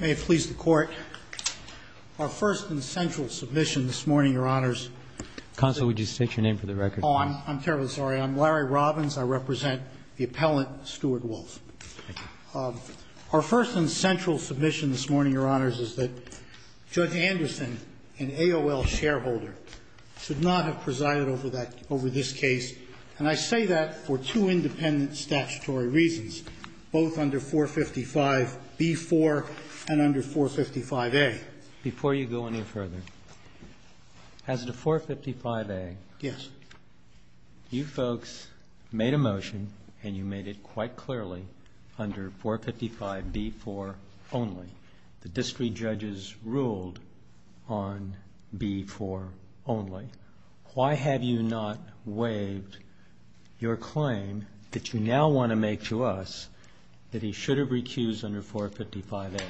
May it please the Court, our first and central submission this morning, Your Honors. Counsel, would you state your name for the record? I'm terribly sorry. I'm Larry Robbins. I represent the appellant, Stuart Wolff. Our first and central submission this morning, Your Honors, is that Judge Anderson, an AOL shareholder, should not have presided over this case. And I say that for two independent statutory reasons, both under 455B-4 and under 455A. Before you go any further, as to 455A, you folks made a motion and you made it quite clearly under 455B-4 only. The district judges ruled on B-4 only. Why have you not waived your claim that you now want to make to us that he should have recused under 455A?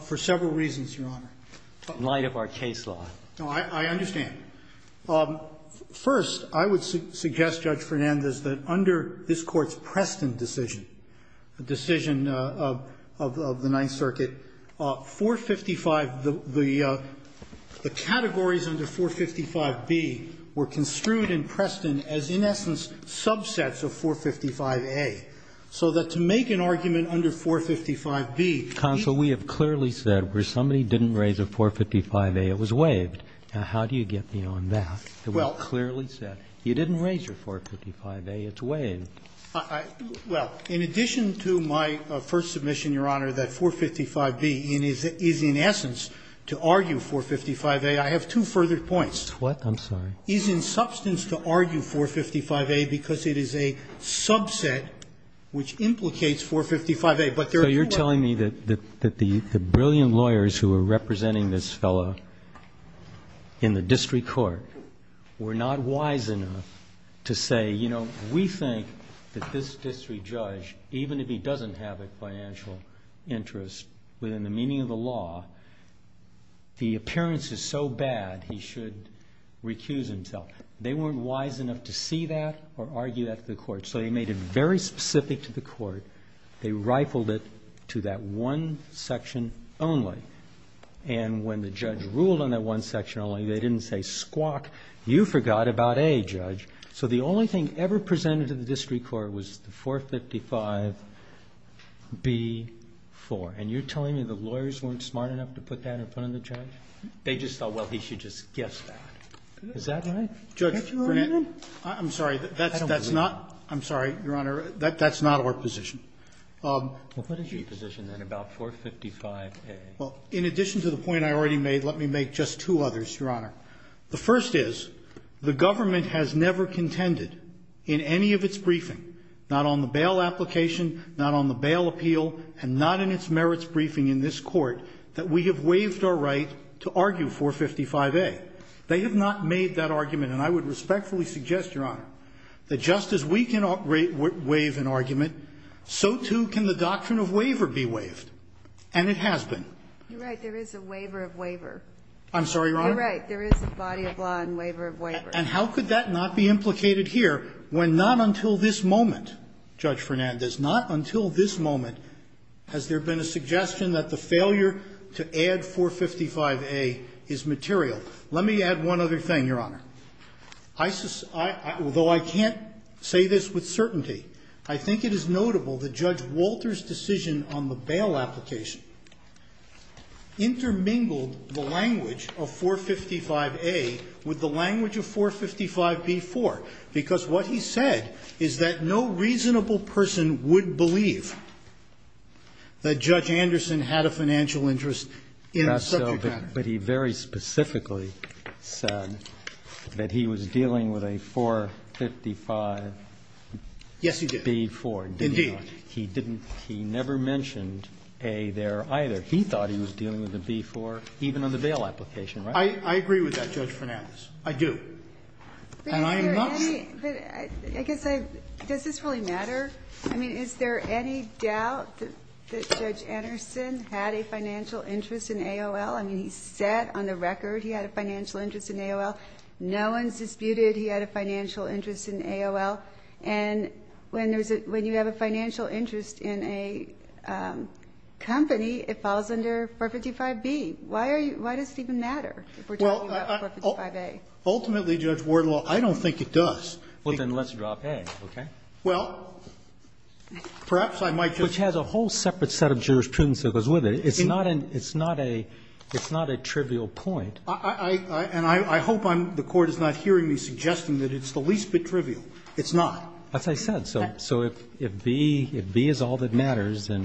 For several reasons, Your Honor. In light of our case law. I understand. First, I would suggest, Judge Fernandez, that under this Court's Preston decision, the decision of the Ninth Circuit, 455, the categories under 455B were construed in Preston as, in essence, subsets of 455A. So that to make an argument under 455B. Counsel, we have clearly said where somebody didn't raise a 455A, it was waived. Now, how do you get beyond that? We clearly said you didn't raise your 455A, it's waived. Well, in addition to my first submission, Your Honor, that 455B is in essence to argue 455A, I have two further points. What? I'm sorry. It is in substance to argue 455A because it is a subset which implicates 455A. So you're telling me that the brilliant lawyers who are representing this fellow in the district court were not wise enough to say, you know, we think that this district judge, even if he doesn't have a financial interest within the meaning of the law, the appearance is so bad he should recuse himself. They weren't wise enough to see that or argue that to the court. So they made it very specific to the court. They rifled it to that one section only. And when the judge ruled on that one section only, they didn't say, squawk, you forgot about A, Judge. So the only thing ever presented to the district court was the 455B-4. And you're telling me the lawyers weren't smart enough to put that in front of the judge? They just thought, well, he should just guess that. Is that right? Judge, I'm sorry. That's not or position. What is your position then about 455A? Well, in addition to the point I already made, let me make just two others, Your Honor. The first is the government has never contended in any of its briefing, not on the bail application, not on the bail appeal, and not in its merits briefing in this court, that we have waived our right to argue 455A. They have not made that argument. And I would respectfully suggest, Your Honor, that just as we can waive an argument, so, too, can the doctrine of waiver be waived. And it has been. You're right. There is a waiver of waiver. I'm sorry, Your Honor? You're right. There is a body of law and waiver of waiver. And how could that not be implicated here when not until this moment, Judge Fernandez, not until this moment has there been a suggestion that the failure to add 455A is material. Let me add one other thing, Your Honor. Although I can't say this with certainty, I think it is notable that Judge Walter's decision on the bail application intermingled the language of 455A with the language of 455B-4, because what he said is that no reasonable person would believe that Judge Anderson had a financial interest in the subject matter. But he very specifically said that he was dealing with a 455B-4. Yes, he did. Indeed. He never mentioned A there, either. He thought he was dealing with a B-4 even on the bail application, right? I agree with that, Judge Fernandez. I do. And I'm not saying that Judge Anderson had a financial interest in AOL. I mean, he said on the record he had a financial interest in AOL. No one's disputed he had a financial interest in AOL. And when there's a – when you have a financial interest in a company, it falls under 455B. Why are you – why does it even matter if we're talking about 455A? Ultimately, Judge Wardlaw, I don't think it does. Well, then let's drop A, okay? Well, perhaps I might just – Which has a whole separate set of jurisprudence that goes with it. It's not a – it's not a trivial point. And I hope I'm – the Court is not hearing me suggesting that it's the least bit trivial. It's not. As I said, so if B – if B is all that matters, then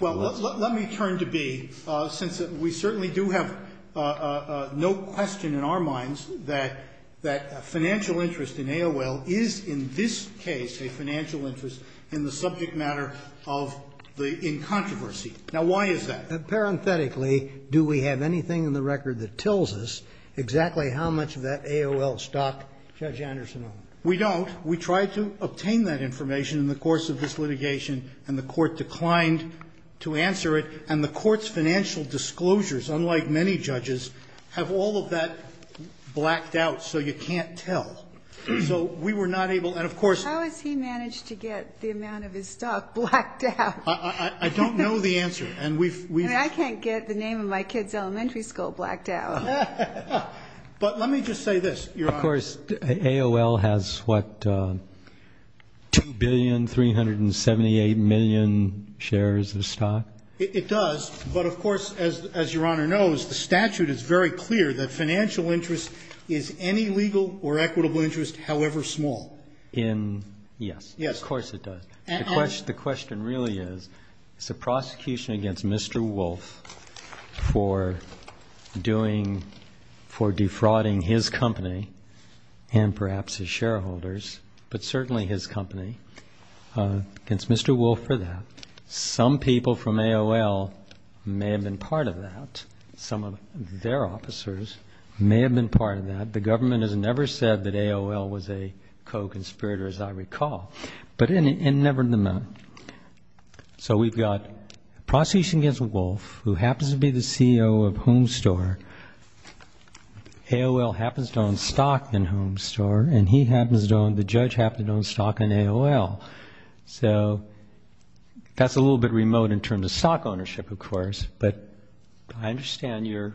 let's – Well, let me turn to B, since we certainly do have no question in our minds that financial interest in AOL is in this case a financial interest in the subject matter of the – in controversy. Now, why is that? Parenthetically, do we have anything in the record that tells us exactly how much of that AOL stock Judge Anderson owned? We don't. We tried to obtain that information in the course of this litigation, and the Court declined to answer it, and the Court's financial disclosures, unlike many judges, have all of that blacked out, so you can't tell. So we were not able – and of course – How has he managed to get the amount of his stock blacked out? I don't know the answer, and we've – I mean, I can't get the name of my kid's elementary school blacked out. But let me just say this, Your Honor. Of course, AOL has, what, 2,378,000,000 shares of stock? It does, but of course, as Your Honor knows, the statute is very clear that financial interest is any legal or equitable interest, however small. In – yes. Yes. Of course it does. The question really is, it's a prosecution against Mr. Wolfe for doing – for defrauding his company and perhaps his shareholders, but certainly his company, against Mr. Wolfe for that. Some people from AOL may have been part of that. Some of their officers may have been part of that. The government has never said that AOL was a co-conspirator, as I recall. But it never meant – so we've got prosecution against Wolfe, who happens to be the CEO of Home Store. AOL happens to own stock in Home Store, and he happens to own – the judge happens to own stock in AOL. So that's a little bit remote in terms of stock ownership, of course, but I understand your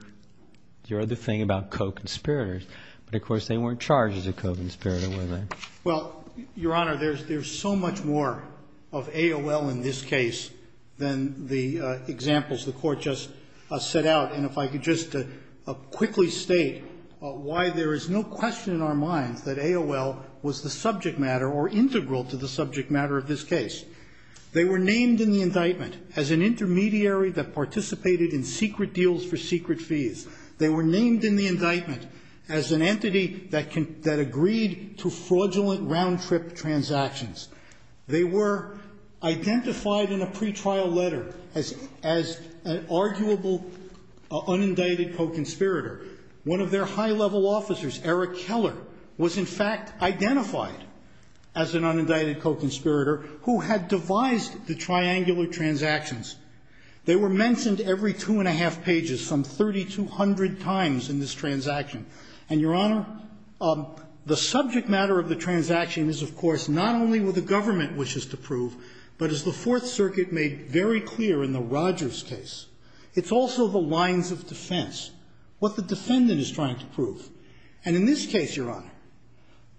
other thing about co-conspirators. But, of course, they weren't charged as a co-conspirator, were they? Well, Your Honor, there's so much more of AOL in this case than the examples the Court just set out. And if I could just quickly state why there is no question in our minds that AOL was the subject matter or integral to the subject matter of this case. They were named in the indictment as an intermediary that participated in secret deals for secret fees. They were named in the indictment as an entity that agreed to fraudulent round-trip transactions. They were identified in a pretrial letter as an arguable, unindicted co-conspirator. One of their high-level officers, Eric Keller, was in fact identified as an unindicted co-conspirator who had devised the triangular transactions. They were mentioned every two and a half pages, some 3,200 times in this transaction. And, Your Honor, the subject matter of the transaction is, of course, not only what the government wishes to prove, but, as the Fourth Circuit made very clear in the Rogers case, it's also the lines of defense, what the defendant is trying to prove. And in this case, Your Honor,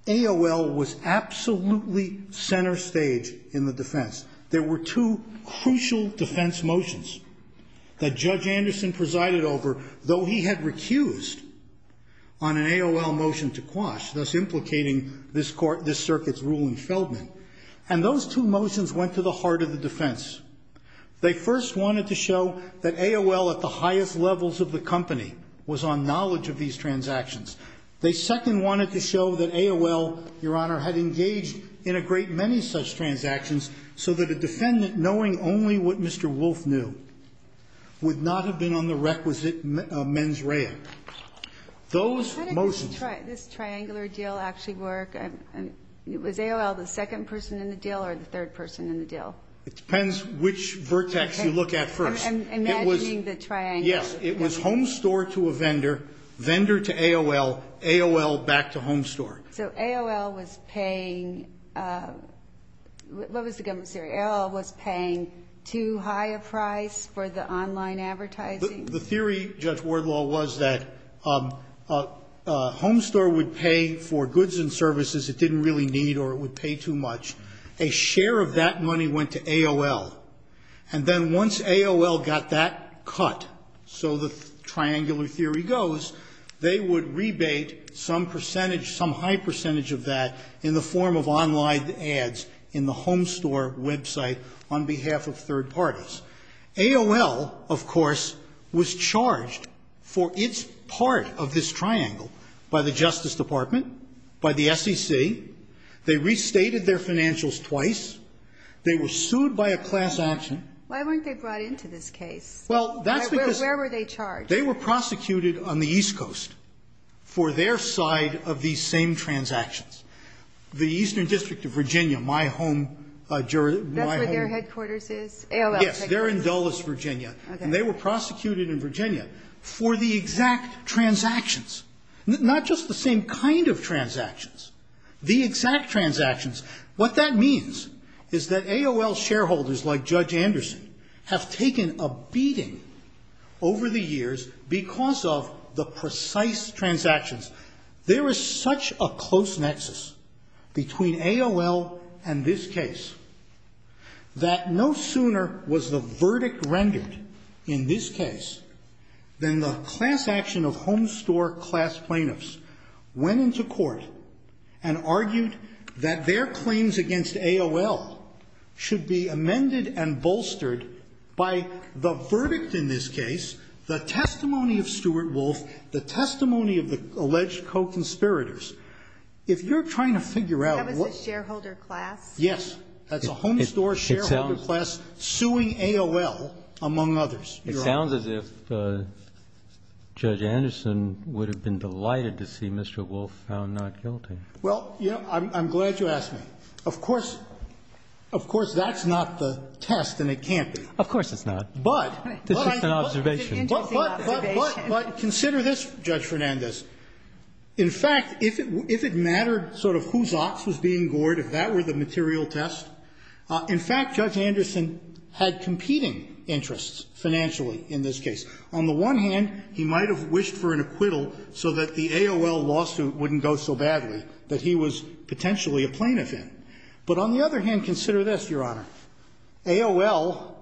AOL was absolutely center stage in the defense. There were two crucial defense motions that Judge Anderson presided over, though he had recused on an AOL motion to quash, thus implicating this circuit's ruling Feldman. And those two motions went to the heart of the defense. They first wanted to show that AOL, at the highest levels of the company, was on knowledge of these transactions. They second wanted to show that AOL, Your Honor, had engaged in a great many such transactions so that a defendant, knowing only what Mr. Wolfe knew, would not have been on the requisite mens rea. Those motions. How did this triangular deal actually work? Was AOL the second person in the deal or the third person in the deal? It depends which vertex you look at first. Okay. I'm imagining the triangle. Yes. It was home store to a vendor, vendor to AOL, AOL back to home store. So AOL was paying, what was the government's theory? AOL was paying too high a price for the online advertising? The theory, Judge Wardlaw, was that a home store would pay for goods and services it didn't really need or it would pay too much. A share of that money went to AOL. And then once AOL got that cut, so the triangular theory goes, they would rebate some percentage, some high percentage of that in the form of online ads in the home store website on behalf of third parties. AOL, of course, was charged for its part of this triangle by the Justice Department, by the SEC. They restated their financials twice. They were sued by a class action. Why weren't they brought into this case? Well, that's because they were prosecuted on the East Side. The East Coast for their side of these same transactions. The Eastern District of Virginia, my home, my home. That's where their headquarters is? AOL headquarters? Yes. They're in Dulles, Virginia. Okay. And they were prosecuted in Virginia for the exact transactions, not just the same kind of transactions, the exact transactions. What that means is that AOL shareholders like Judge Anderson have taken a beating over the years because of the precise transactions. There is such a close nexus between AOL and this case that no sooner was the verdict rendered in this case than the class action of home store class plaintiffs went into court and argued that their claims against AOL should be amended and bolstered by the verdict in this case, the testimony of Stuart Wolf, the testimony of the alleged co-conspirators. If you're trying to figure out what the shareholder class. Yes. That's a home store shareholder class suing AOL, among others. It sounds as if Judge Anderson would have been delighted to see Mr. Wolf found not guilty. Well, you know, I'm glad you asked me. Of course, of course, that's not the test and it can't be. Of course it's not. But, but, but, but, consider this, Judge Fernandez. In fact, if it mattered sort of whose ox was being gored, if that were the material test, in fact, Judge Anderson had competing interests financially in this case. On the one hand, he might have wished for an acquittal so that the AOL lawsuit wouldn't go so badly that he was potentially a plaintiff in. But on the other hand, consider this, Your Honor. AOL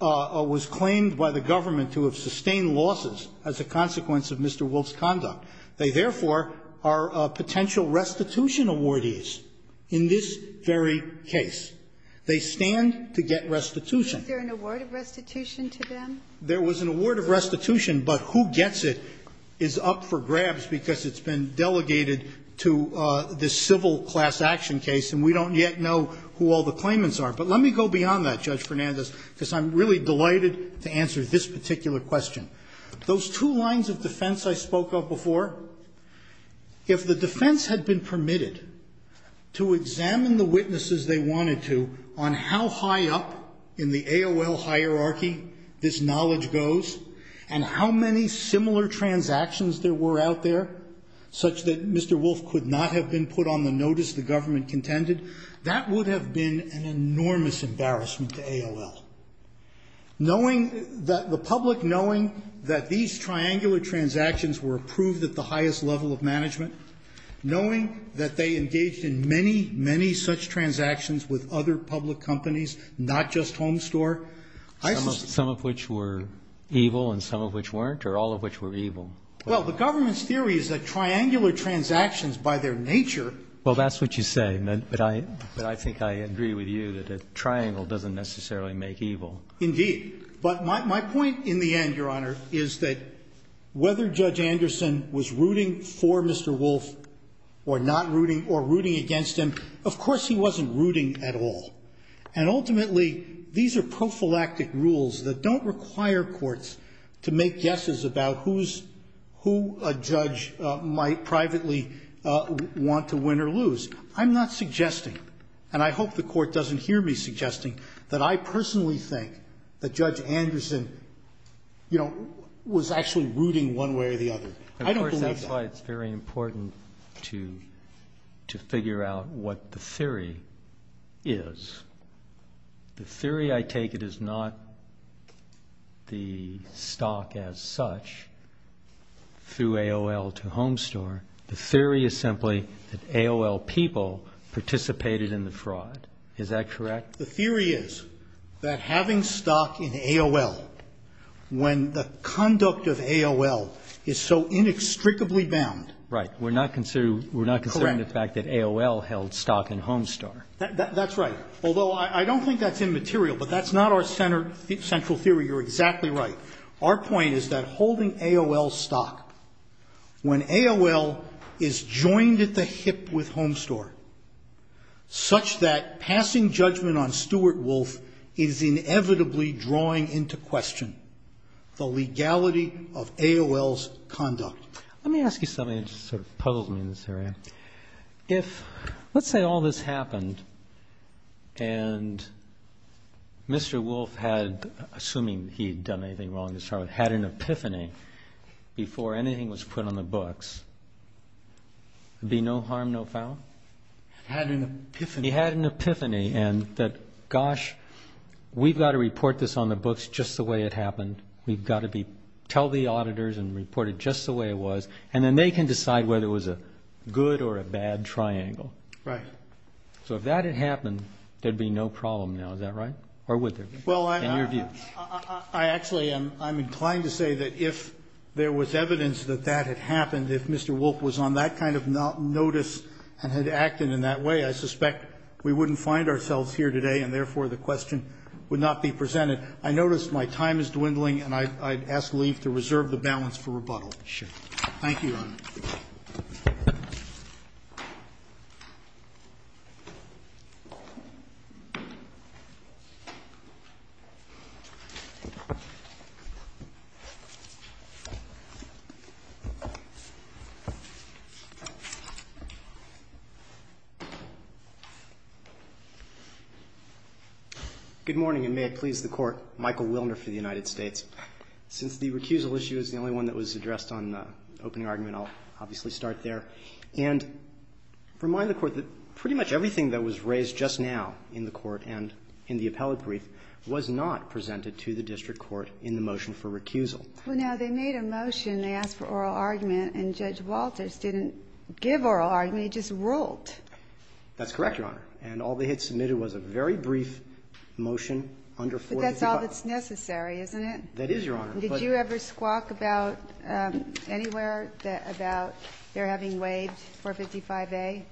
was claimed by the government to have sustained losses as a consequence of Mr. Wolf's conduct. They, therefore, are potential restitution awardees in this very case. They stand to get restitution. Is there an award of restitution to them? There was an award of restitution, but who gets it is up for grabs because it's been all the claimants are. But let me go beyond that, Judge Fernandez, because I'm really delighted to answer this particular question. Those two lines of defense I spoke of before, if the defense had been permitted to examine the witnesses they wanted to on how high up in the AOL hierarchy this knowledge goes and how many similar transactions there were out there such that that would have been an enormous embarrassment to AOL. Knowing that the public, knowing that these triangular transactions were approved at the highest level of management, knowing that they engaged in many, many such transactions with other public companies, not just Homestore, I suspect. Some of which were evil and some of which weren't or all of which were evil? Well, the government's theory is that triangular transactions by their nature. Well, that's what you say. But I think I agree with you that a triangle doesn't necessarily make evil. Indeed. But my point in the end, Your Honor, is that whether Judge Anderson was rooting for Mr. Wolf or not rooting or rooting against him, of course he wasn't rooting at all. And ultimately, these are prophylactic rules that don't require courts to make guesses about who a judge might privately want to win or lose. I'm not suggesting, and I hope the Court doesn't hear me suggesting, that I personally think that Judge Anderson, you know, was actually rooting one way or the other. I don't believe that. Of course, that's why it's very important to figure out what the theory is. The theory I take it is not the stock as such through AOL to Homestore. The theory is simply that AOL people participated in the fraud. Is that correct? The theory is that having stock in AOL when the conduct of AOL is so inextricably bound. Right. We're not considering the fact that AOL held stock in Homestore. That's right. Although I don't think that's immaterial, but that's not our central theory. You're exactly right. Our point is that holding AOL stock when AOL is joined at the hip with Homestore such that passing judgment on Stuart Wolf is inevitably drawing into question the legality of AOL's conduct. Let me ask you something that sort of puzzles me in this area. Let's say all this happened and Mr. Wolf had, assuming he had done anything wrong to start with, had an epiphany before anything was put on the books. There'd be no harm, no foul? Had an epiphany. He had an epiphany and that, gosh, we've got to report this on the books just the way it happened. We've got to tell the auditors and report it just the way it was, and then they can decide whether it was a good or a bad triangle. Right. So if that had happened, there'd be no problem now, is that right? Or would there? Well, I actually am inclined to say that if there was evidence that that had happened, if Mr. Wolf was on that kind of notice and had acted in that way, I suspect we wouldn't find ourselves here today and therefore the question would not be presented. I notice my time is dwindling and I'd ask Leif to reserve the balance for rebuttal. Sure. Thank you, Your Honor. Good morning, and may it please the Court. Michael Wilner for the United States. Since the recusal issue is the only one that was addressed on the opening argument, I'll obviously start there. And remind the Court that pretty much everything that was raised just now in the Court and in the appellate brief was not presented to the district court in the motion for recusal. Well, now, they made a motion. They asked for oral argument, and Judge Walters didn't give oral argument. He just ruled. That's correct, Your Honor. And all they had submitted was a very brief motion under 425. That's all that's necessary, isn't it? That is, Your Honor. Did you ever squawk about anywhere about their having waived 455A?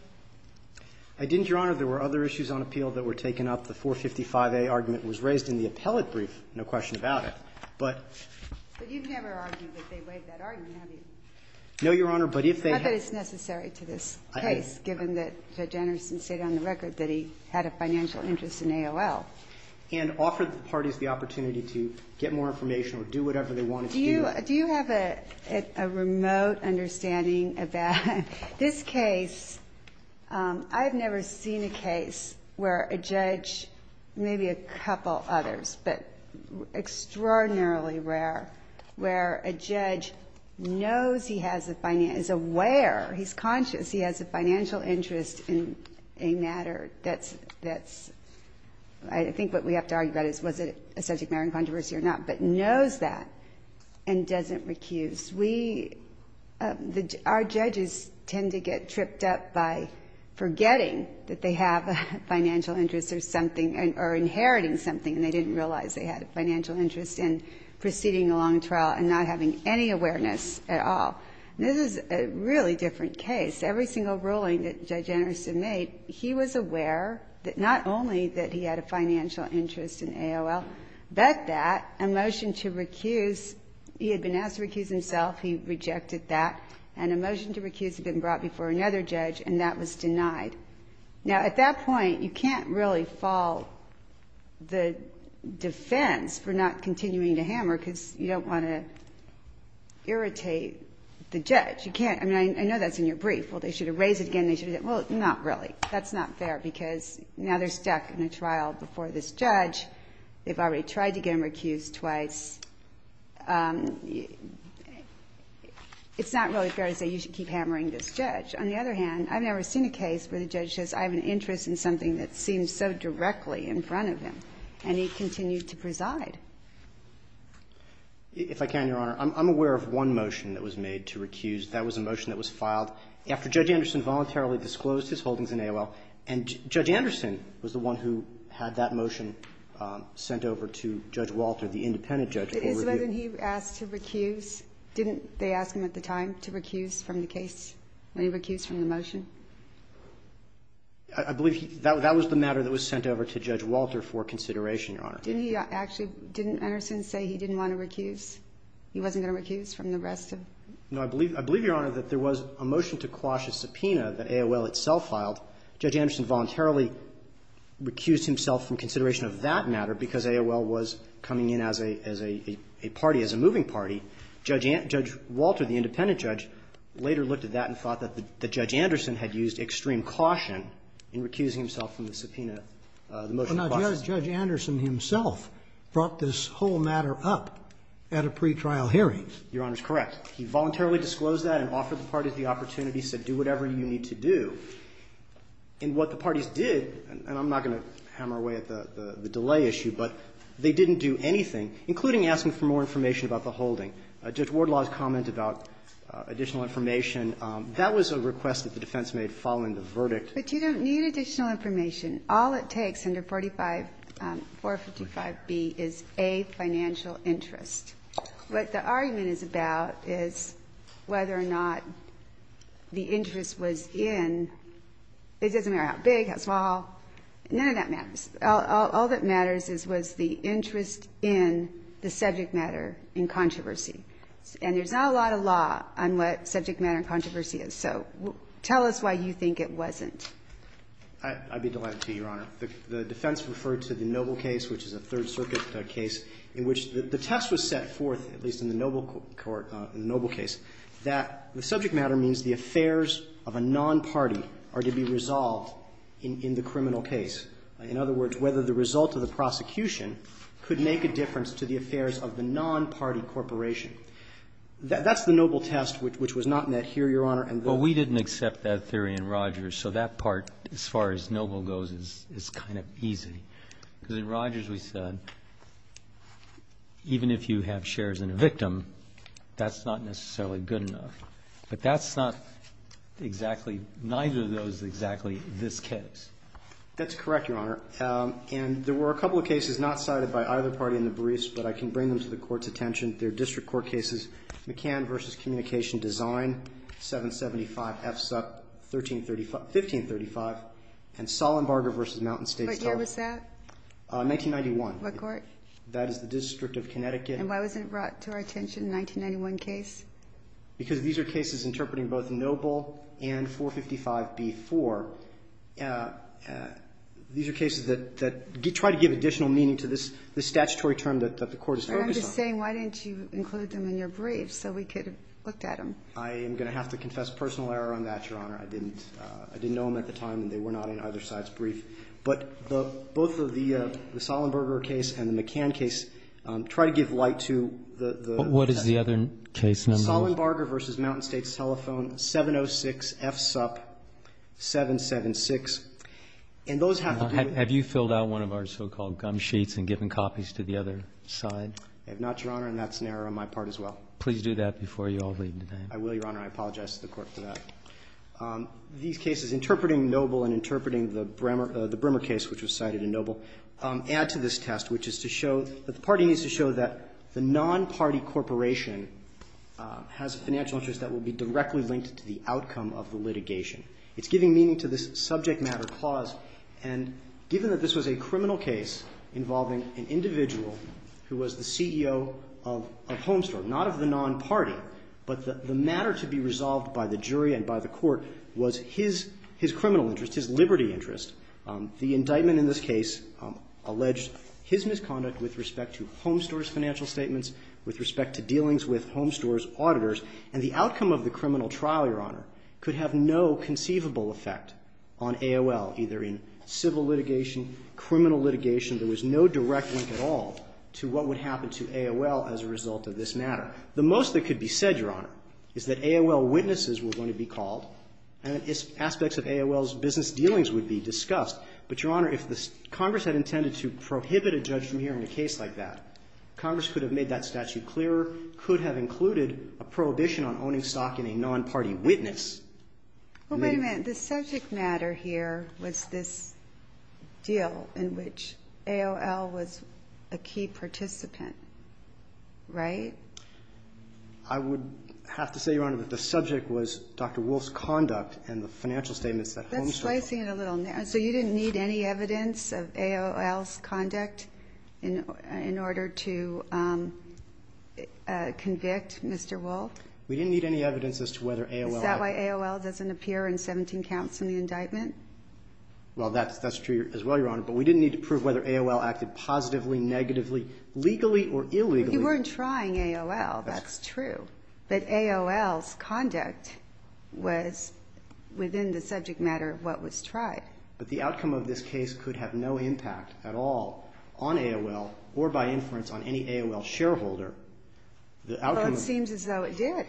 I didn't, Your Honor. There were other issues on appeal that were taken up. The 455A argument was raised in the appellate brief, no question about it. But you've never argued that they waived that argument, have you? No, Your Honor, but if they had. Not that it's necessary to this case, given that Judge Anderson said on the record that he had a financial interest in AOL. And offered the parties the opportunity to get more information or do whatever they wanted to do. Do you have a remote understanding of that? This case, I have never seen a case where a judge, maybe a couple others, but extraordinarily rare, where a judge knows he has a financial interest, is aware, he's conscious he has a financial interest in a matter that's, I think what we have to argue about is was it a subject matter in controversy or not, but knows that and doesn't recuse. We, our judges tend to get tripped up by forgetting that they have a financial interest or something, or inheriting something, and they didn't realize they had a financial interest in proceeding a long trial and not having any awareness at all. And this is a really different case. Every single ruling that Judge Anderson made, he was aware that not only that he had a financial interest in AOL, but that a motion to recuse, he had been asked to recuse himself, he rejected that. And a motion to recuse had been brought before another judge, and that was denied. Now, at that point, you can't really fault the defense for not continuing to hammer because you don't want to irritate the judge. You can't. I mean, I know that's in your brief. Well, they should erase it again. Well, not really. That's not fair because now they're stuck in a trial before this judge. They've already tried to get him recused twice. It's not really fair to say you should keep hammering this judge. On the other hand, I've never seen a case where the judge says I have an interest in something that seems so directly in front of him, and he continued to preside. If I can, Your Honor, I'm aware of one motion that was made to recuse. That was a motion that was filed after Judge Anderson voluntarily disclosed his holdings in AOL. And Judge Anderson was the one who had that motion sent over to Judge Walter, the independent judge. It is whether he asked to recuse. Didn't they ask him at the time to recuse from the case when he recused from the motion? Your Honor. Didn't he actually, didn't Anderson say he didn't want to recuse? He wasn't going to recuse from the rest of it? No. I believe, Your Honor, that there was a motion to quash a subpoena that AOL itself filed. Judge Anderson voluntarily recused himself from consideration of that matter because AOL was coming in as a party, as a moving party. Judge Walter, the independent judge, later looked at that and thought that Judge to quash it. Well, now, Judge Anderson himself brought this whole matter up at a pretrial hearing. Your Honor's correct. He voluntarily disclosed that and offered the parties the opportunity, said do whatever you need to do. And what the parties did, and I'm not going to hammer away at the delay issue, but they didn't do anything, including asking for more information about the holding. Judge Wardlaw's comment about additional information, that was a request that the defense made following the verdict. But you don't need additional information. All it takes under 455B is A, financial interest. What the argument is about is whether or not the interest was in, it doesn't matter how big, how small, none of that matters. All that matters is was the interest in the subject matter in controversy. And there's not a lot of law on what subject matter in controversy is. So tell us why you think it wasn't. I'd be delighted to, Your Honor. The defense referred to the Noble case, which is a Third Circuit case, in which the test was set forth, at least in the Noble case, that the subject matter means the affairs of a non-party are to be resolved in the criminal case. In other words, whether the result of the prosecution could make a difference to the affairs of the non-party corporation. That's the Noble test, which was not met here, Your Honor. But we didn't accept that theory in Rogers. So that part, as far as Noble goes, is kind of easy. Because in Rogers we said, even if you have shares in a victim, that's not necessarily good enough. But that's not exactly, neither of those is exactly this case. That's correct, Your Honor. And there were a couple of cases not cited by either party in the briefs, but I can bring them to the Court's attention. They're district court cases. McCann v. Communication Design, 775 FSUP, 1535. And Sollenbarger v. Mountain State. But year was that? 1991. What court? That is the District of Connecticut. And why wasn't it brought to our attention in the 1991 case? Because these are cases interpreting both Noble and 455b-4. the Court is focused on. I'm just saying, why didn't you include them in your briefs so we could have looked at them? I am going to have to confess personal error on that, Your Honor. I didn't know them at the time, and they were not in either side's brief. But both of the Sollenbarger case and the McCann case try to give light to the... What is the other case number? Sollenbarger v. Mountain State's telephone, 706 FSUP, 776. And those have to be... I have not, Your Honor, and that's an error on my part as well. Please do that before you all leave today. I will, Your Honor. I apologize to the Court for that. These cases interpreting Noble and interpreting the Bremer case, which was cited in Noble, add to this test, which is to show that the party needs to show that the non-party corporation has a financial interest that will be directly linked to the outcome of the litigation. It's giving meaning to this subject matter clause. And given that this was a criminal case involving an individual who was the CEO of Homestore, not of the non-party, but the matter to be resolved by the jury and by the court was his criminal interest, his liberty interest, the indictment in this case alleged his misconduct with respect to Homestore's financial statements, with respect to dealings with Homestore's auditors, and the outcome of the criminal trial, Your Honor, in AOL, either in civil litigation, criminal litigation, there was no direct link at all to what would happen to AOL as a result of this matter. The most that could be said, Your Honor, is that AOL witnesses were going to be called and that aspects of AOL's business dealings would be discussed. But, Your Honor, if Congress had intended to prohibit a judge from hearing a case like that, Congress could have made that statute clearer, could have included a prohibition on owning stock in a non-party witness. Well, wait a minute. The subject matter here was this deal in which AOL was a key participant, right? I would have to say, Your Honor, that the subject was Dr. Wolf's conduct and the financial statements that Homestore filed. That's slicing it a little narrow. So you didn't need any evidence of AOL's conduct in order to convict Mr. Wolf? We didn't need any evidence as to whether AOL acted. Is that why AOL doesn't appear in 17 counts in the indictment? Well, that's true as well, Your Honor. But we didn't need to prove whether AOL acted positively, negatively, legally, or illegally. But you weren't trying AOL. That's true. But AOL's conduct was within the subject matter of what was tried. But the outcome of this case could have no impact at all on AOL or by inference on any AOL shareholder. Well, it seems as though it did.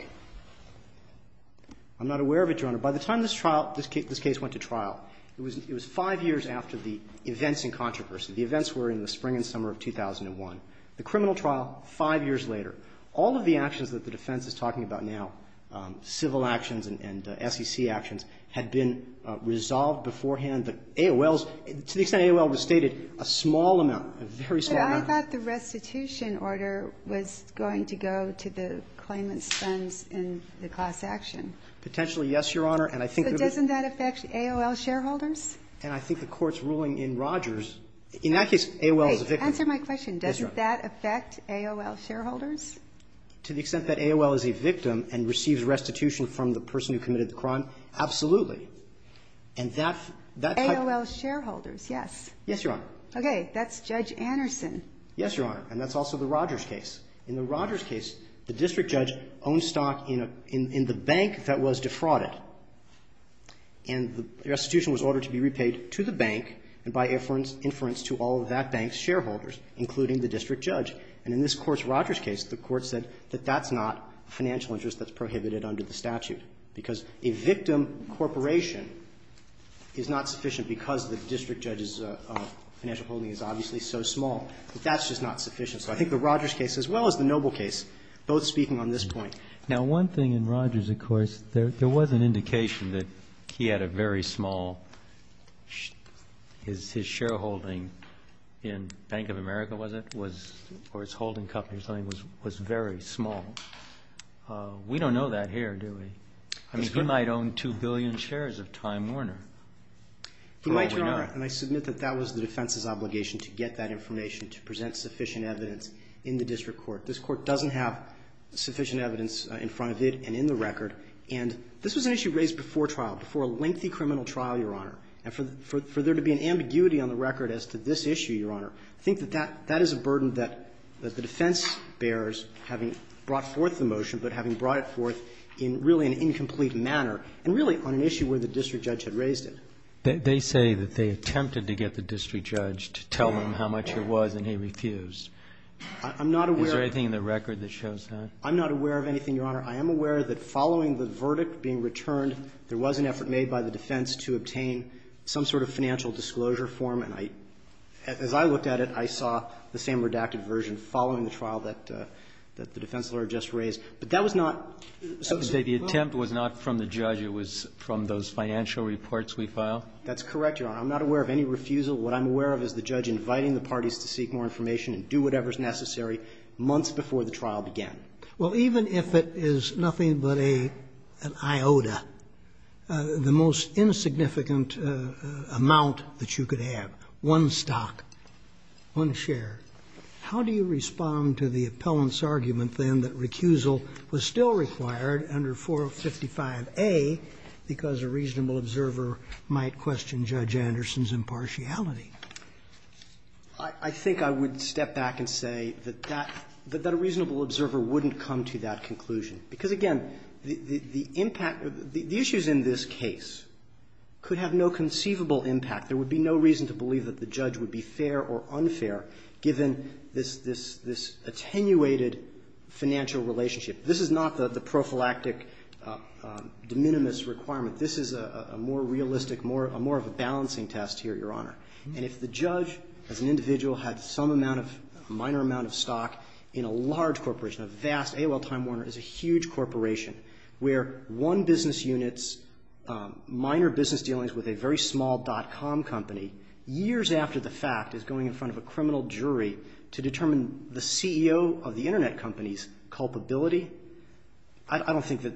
I'm not aware of it, Your Honor. By the time this trial, this case went to trial, it was five years after the events in controversy. The events were in the spring and summer of 2001. The criminal trial, five years later. All of the actions that the defense is talking about now, civil actions and SEC actions, had been resolved beforehand. The AOL's, to the extent AOL was stated, a small amount, a very small amount. I thought the restitution order was going to go to the claimant's friends in the class action. Potentially, yes, Your Honor. And I think it would be. So doesn't that affect AOL shareholders? And I think the Court's ruling in Rogers, in that case, AOL is a victim. Answer my question. Yes, Your Honor. Doesn't that affect AOL shareholders? To the extent that AOL is a victim and receives restitution from the person who committed the crime, absolutely. And that type. AOL shareholders, yes. Yes, Your Honor. Okay. That's Judge Anderson. Yes, Your Honor. And that's also the Rogers case. In the Rogers case, the district judge owned stock in the bank that was defrauded. And the restitution was ordered to be repaid to the bank and by inference to all of that bank's shareholders, including the district judge. And in this Court's Rogers case, the Court said that that's not financial interest that's prohibited under the statute, because a victim corporation is not sufficient because the district judge's financial holding is obviously so small. But that's just not sufficient. So I think the Rogers case, as well as the Noble case, both speaking on this point. Now, one thing in Rogers, of course, there was an indication that he had a very small his shareholding in Bank of America, was it, or his holding company or something, was very small. We don't know that here, do we? I mean, he might own 2 billion shares of Time Warner. He might, Your Honor. And I submit that that was the defense's obligation to get that information to present sufficient evidence in the district court. This Court doesn't have sufficient evidence in front of it and in the record. And this was an issue raised before trial, before a lengthy criminal trial, Your Honor. And for there to be an ambiguity on the record as to this issue, Your Honor, I think that that is a burden that the defense bears, having brought forth the motion, but having brought it forth in really an incomplete manner and really on an issue where the district judge had raised it. They say that they attempted to get the district judge to tell them how much it was and he refused. I'm not aware of anything in the record that shows that. I'm not aware of anything, Your Honor. I am aware that following the verdict being returned, there was an effort made by the defense to obtain some sort of financial disclosure form. And as I looked at it, I saw the same redacted version following the trial that the defense lawyer just raised. But that was not associated with the trial? I would say the attempt was not from the judge. It was from those financial reports we filed. That's correct, Your Honor. I'm not aware of any refusal. What I'm aware of is the judge inviting the parties to seek more information and do whatever is necessary months before the trial began. Well, even if it is nothing but an iota, the most insignificant amount that you could I think I would step back and say that that a reasonable observer wouldn't come to that conclusion, because, again, the impact of the issues in this case could have no conceivable impact, there would be no reason to believe that the judge would be fair or unfair given this attenuated financial relationship. This is not the prophylactic de minimis requirement. This is a more realistic, more of a balancing test here, Your Honor. And if the judge as an individual had some amount of, a minor amount of stock in a large corporation, a vast AOL Time Warner is a huge corporation where one business unit's minor business dealings with a very small dot-com company, years after the to determine the CEO of the internet company's culpability, I don't think that,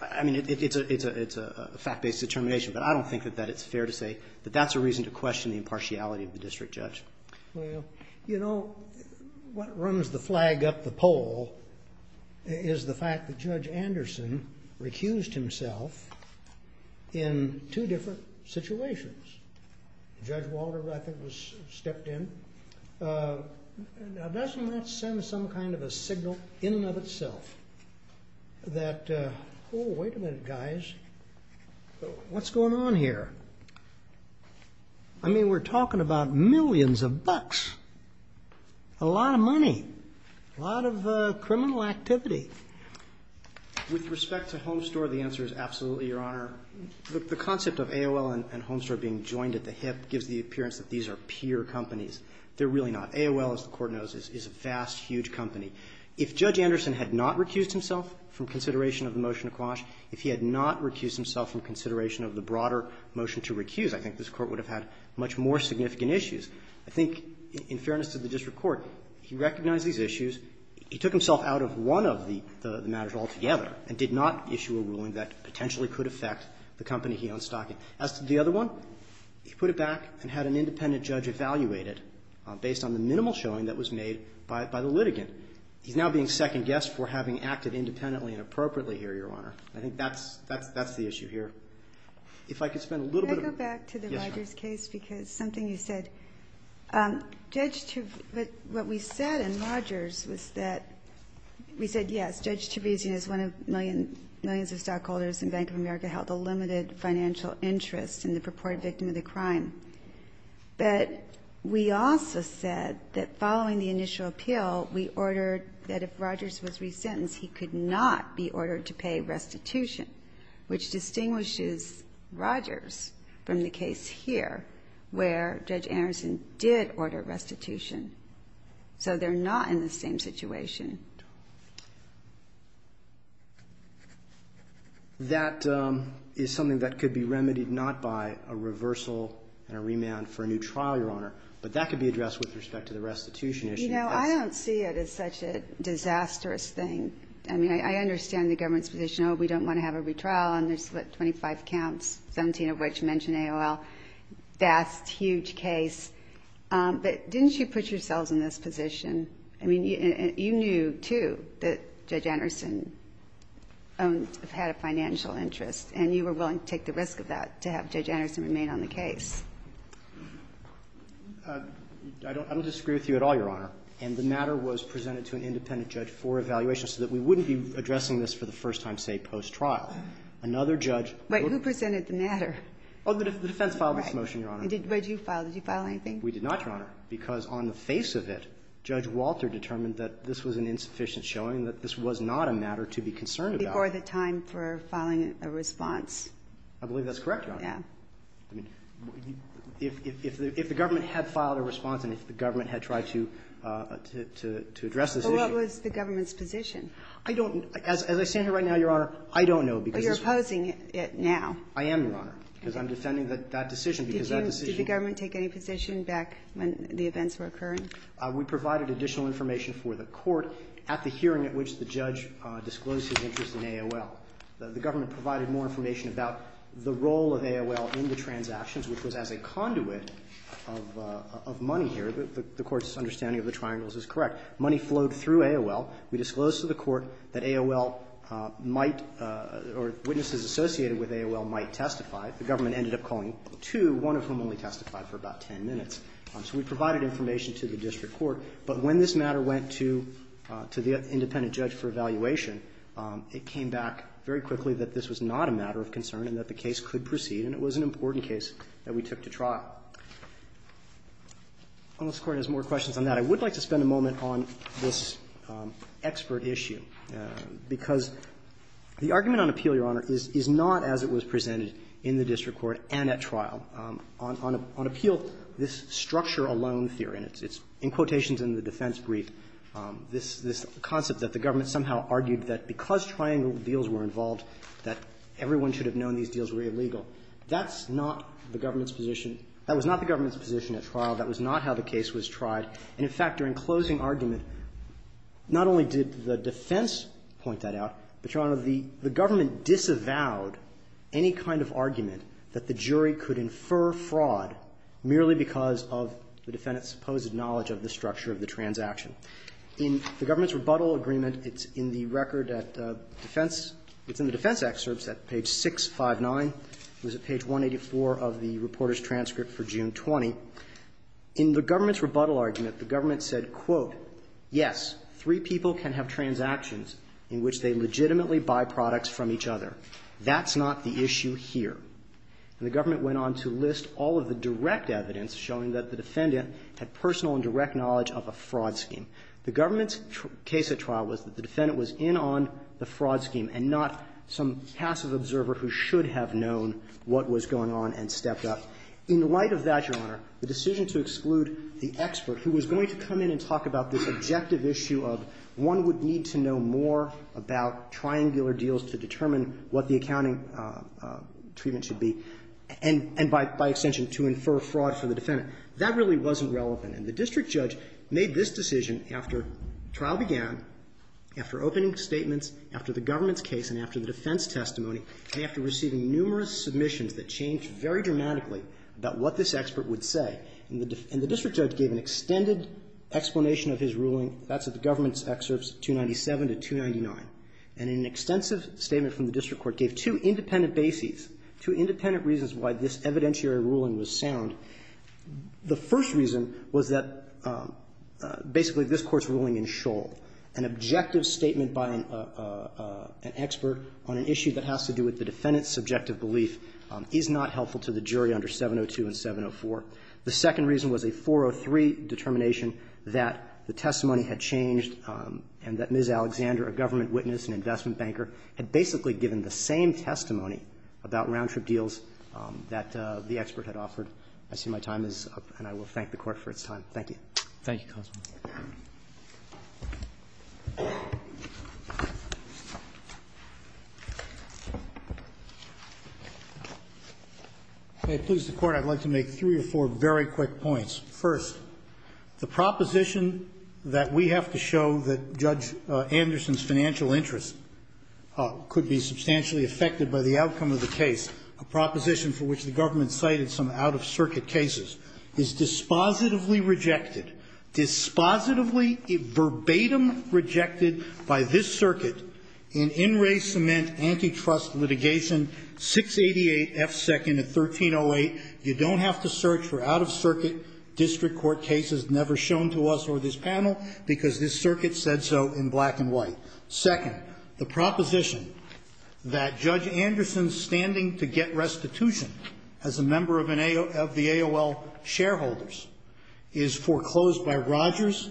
I mean, it's a fact-based determination, but I don't think that it's fair to say that that's a reason to question the impartiality of the district judge. Well, you know, what runs the flag up the poll is the fact that Judge Anderson recused himself in two different situations. Judge Walter, I think, stepped in. Now, doesn't that send some kind of a signal in and of itself that, oh, wait a minute, guys, what's going on here? I mean, we're talking about millions of bucks, a lot of money, a lot of criminal activity. With respect to Homestore, the answer is absolutely, Your Honor. The concept of AOL and Homestore being joined at the hip gives the appearance that these are peer companies. They're really not. AOL, as the Court knows, is a vast, huge company. If Judge Anderson had not recused himself from consideration of the motion to quash, if he had not recused himself from consideration of the broader motion to recuse, I think this Court would have had much more significant issues. I think, in fairness to the district court, he recognized these issues. He took himself out of one of the matters altogether and did not issue a ruling that potentially could affect the company he owns, Stocking. As to the other one, he put it back and had an independent judge evaluate it based on the minimal showing that was made by the litigant. He's now being second-guessed for having acted independently and appropriately here, Your Honor. I think that's the issue here. If I could spend a little bit of time. Ginsburg. Can I go back to the Rogers case? Because something you said. What we said in Rogers was that we said, yes, Judge Tavizian is one of millions of stockholders and Bank of America held a limited financial interest in the purported victim of the crime. But we also said that following the initial appeal, we ordered that if Rogers was resentenced, he could not be ordered to pay restitution, which distinguishes Rogers from the case here, where Judge Anderson did order restitution. So they're not in the same situation. That is something that could be remedied not by a reversal and a remand for a new trial, Your Honor. But that could be addressed with respect to the restitution issue. You know, I don't see it as such a disastrous thing. I mean, I understand the government's position, oh, we don't want to have a retrial, and there's, what, 25 counts, 17 of which mention AOL. That's a huge case. But didn't you put yourselves in this position? I mean, you knew, too, that Judge Anderson had a financial interest, and you were willing to take the risk of that to have Judge Anderson remain on the case. I don't disagree with you at all, Your Honor. And the matter was presented to an independent judge for evaluation so that we wouldn't be addressing this for the first time, say, post-trial. Another judge would be. But who presented the matter? Oh, the defense filed this motion, Your Honor. Right. But did you file? Did you file anything? We did not, Your Honor. Because on the face of it, Judge Walter determined that this was an insufficient showing, that this was not a matter to be concerned about. Before the time for filing a response. I believe that's correct, Your Honor. Yeah. I mean, if the government had filed a response and if the government had tried to address this issue. Well, what was the government's position? I don't know. As I stand here right now, Your Honor, I don't know because this was. But you're opposing it now. I am, Your Honor, because I'm defending that decision because that decision. Did the government take any position back when the events were occurring? We provided additional information for the court at the hearing at which the judge disclosed his interest in AOL. The government provided more information about the role of AOL in the transactions, which was as a conduit of money here. The Court's understanding of the triangles is correct. Money flowed through AOL. We disclosed to the court that AOL might or witnesses associated with AOL might testify. The government ended up calling two, one of whom only testified for about ten minutes. So we provided information to the district court. But when this matter went to the independent judge for evaluation, it came back very quickly that this was not a matter of concern and that the case could proceed, and it was an important case that we took to trial. Unless the Court has more questions on that, I would like to spend a moment on this expert issue, because the argument on appeal, Your Honor, is not as it was presented in the district court and at trial. On appeal, this structure alone theory, and it's in quotations in the defense brief, this concept that the government somehow argued that because triangle deals were involved that everyone should have known these deals were illegal, that's not the government's position. That was not the government's position at trial. That was not how the case was tried. And, in fact, during closing argument, not only did the defense point that out, but, Your Honor, the government disavowed any kind of argument that the jury could infer fraud merely because of the defendant's supposed knowledge of the structure of the transaction. In the government's rebuttal agreement, it's in the record at defense – it's in the defense excerpts at page 659. It was at page 184 of the reporter's transcript for June 20. In the government's rebuttal argument, the government said, quote, yes, three people can have transactions in which they legitimately buy products from each other. That's not the issue here. And the government went on to list all of the direct evidence showing that the defendant had personal and direct knowledge of a fraud scheme. The government's case at trial was that the defendant was in on the fraud scheme and not some passive observer who should have known what was going on and stepped up. In light of that, Your Honor, the decision to exclude the expert who was going to come in and talk about this objective issue of one would need to know more about triangular deals to determine what the accounting treatment should be and, by extension, to infer fraud for the defendant, that really wasn't relevant. And the district judge made this decision after trial began, after opening statements, after the government's case, and after the defense testimony, and after receiving numerous submissions that changed very dramatically about what this expert would And the district judge gave an extended explanation of his ruling. That's at the government's excerpts 297 to 299. And an extensive statement from the district court gave two independent bases, two independent reasons why this evidentiary ruling was sound. The first reason was that basically this Court's ruling in Shoal, an objective statement by an expert on an issue that has to do with the defendant's subjective belief, is not helpful to the jury under 702 and 704. The second reason was a 403 determination that the testimony had changed and that Ms. Alexander, a government witness and investment banker, had basically given the same testimony about round-trip deals that the expert had offered. I see my time is up, and I will thank the Court for its time. Thank you, Counsel. If it pleases the Court, I'd like to make three or four very quick points. First, the proposition that we have to show that Judge Anderson's financial interest could be substantially affected by the outcome of the case, a proposition for which the government cited some out-of-circuit cases, is dispositively rejected, dispositively verbatim rejected by this circuit in in-ray cement antitrust litigation, 688 F. 2nd of 1308. You don't have to search for out-of-circuit district court cases never shown to us or this panel, because this circuit said so in black and white. Second, the proposition that Judge Anderson's standing to get restitution as a member of an AOL of the AOL shareholders is foreclosed by Rogers,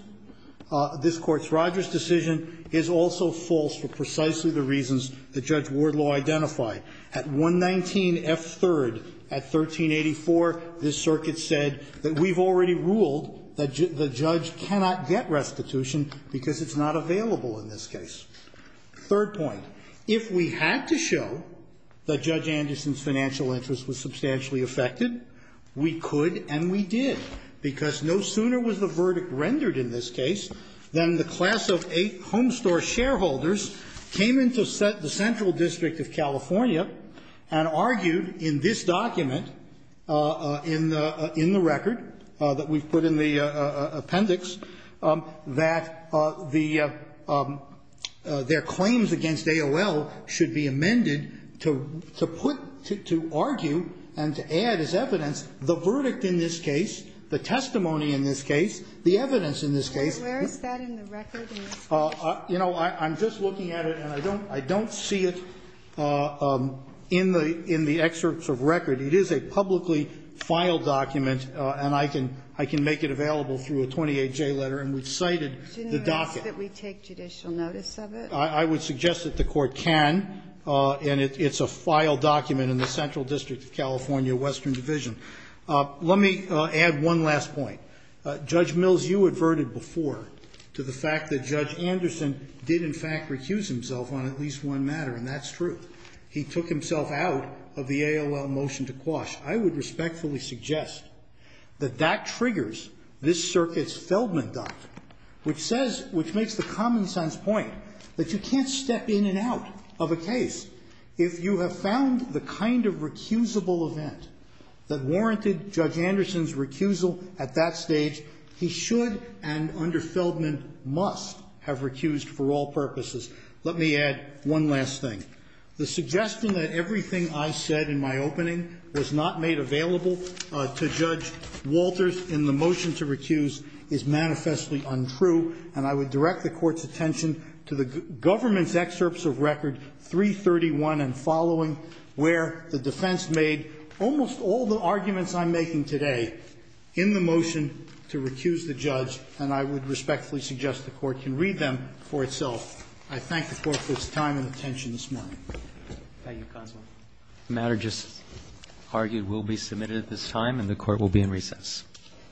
this Court's Rogers decision is also false for precisely the reasons that Judge Wardlaw identified. At 119 F. 3rd at 1384, this circuit said that we've already ruled that the judge cannot get restitution because it's not available in this case. Third point, if we had to show that Judge Anderson's financial interest was substantially affected, we could and we did, because no sooner was the verdict rendered in this case than the class of eight home store shareholders came into the central district of California and argued in this document, in the record that we've put in the appendix, that their claims against AOL should be amended to put, to argue and to add as evidence the verdict in this case, the testimony in this case, the evidence in this case. And where is that in the record in this case? You know, I'm just looking at it and I don't see it in the excerpts of record. It is a publicly filed document and I can, I can make it available through a 28-J letter and we've cited the docket. Didn't you ask that we take judicial notice of it? I would suggest that the Court can, and it's a filed document in the central district of California, Western Division. Let me add one last point. Judge Mills, you adverted before to the fact that Judge Anderson did in fact recuse himself on at least one matter, and that's true. He took himself out of the AOL motion to quash. I would respectfully suggest that that triggers this circuit's Feldman Doctrine, which says, which makes the common sense point, that you can't step in and out of a case if you have found the kind of recusable event that warranted Judge Anderson's recusal at that stage. He should and under Feldman must have recused for all purposes. Let me add one last thing. The suggestion that everything I said in my opening was not made available to Judge Walters in the motion to recuse is manifestly untrue, and I would direct the Court's attention to the government's excerpts of record 331 and following, where the defense made almost all the arguments I'm making today in the motion to recuse the judge, and I would respectfully suggest the Court can read them for itself. I thank the Court for its time and attention this morning. Thank you, counsel. The matter just argued will be submitted at this time, and the Court will be in recess.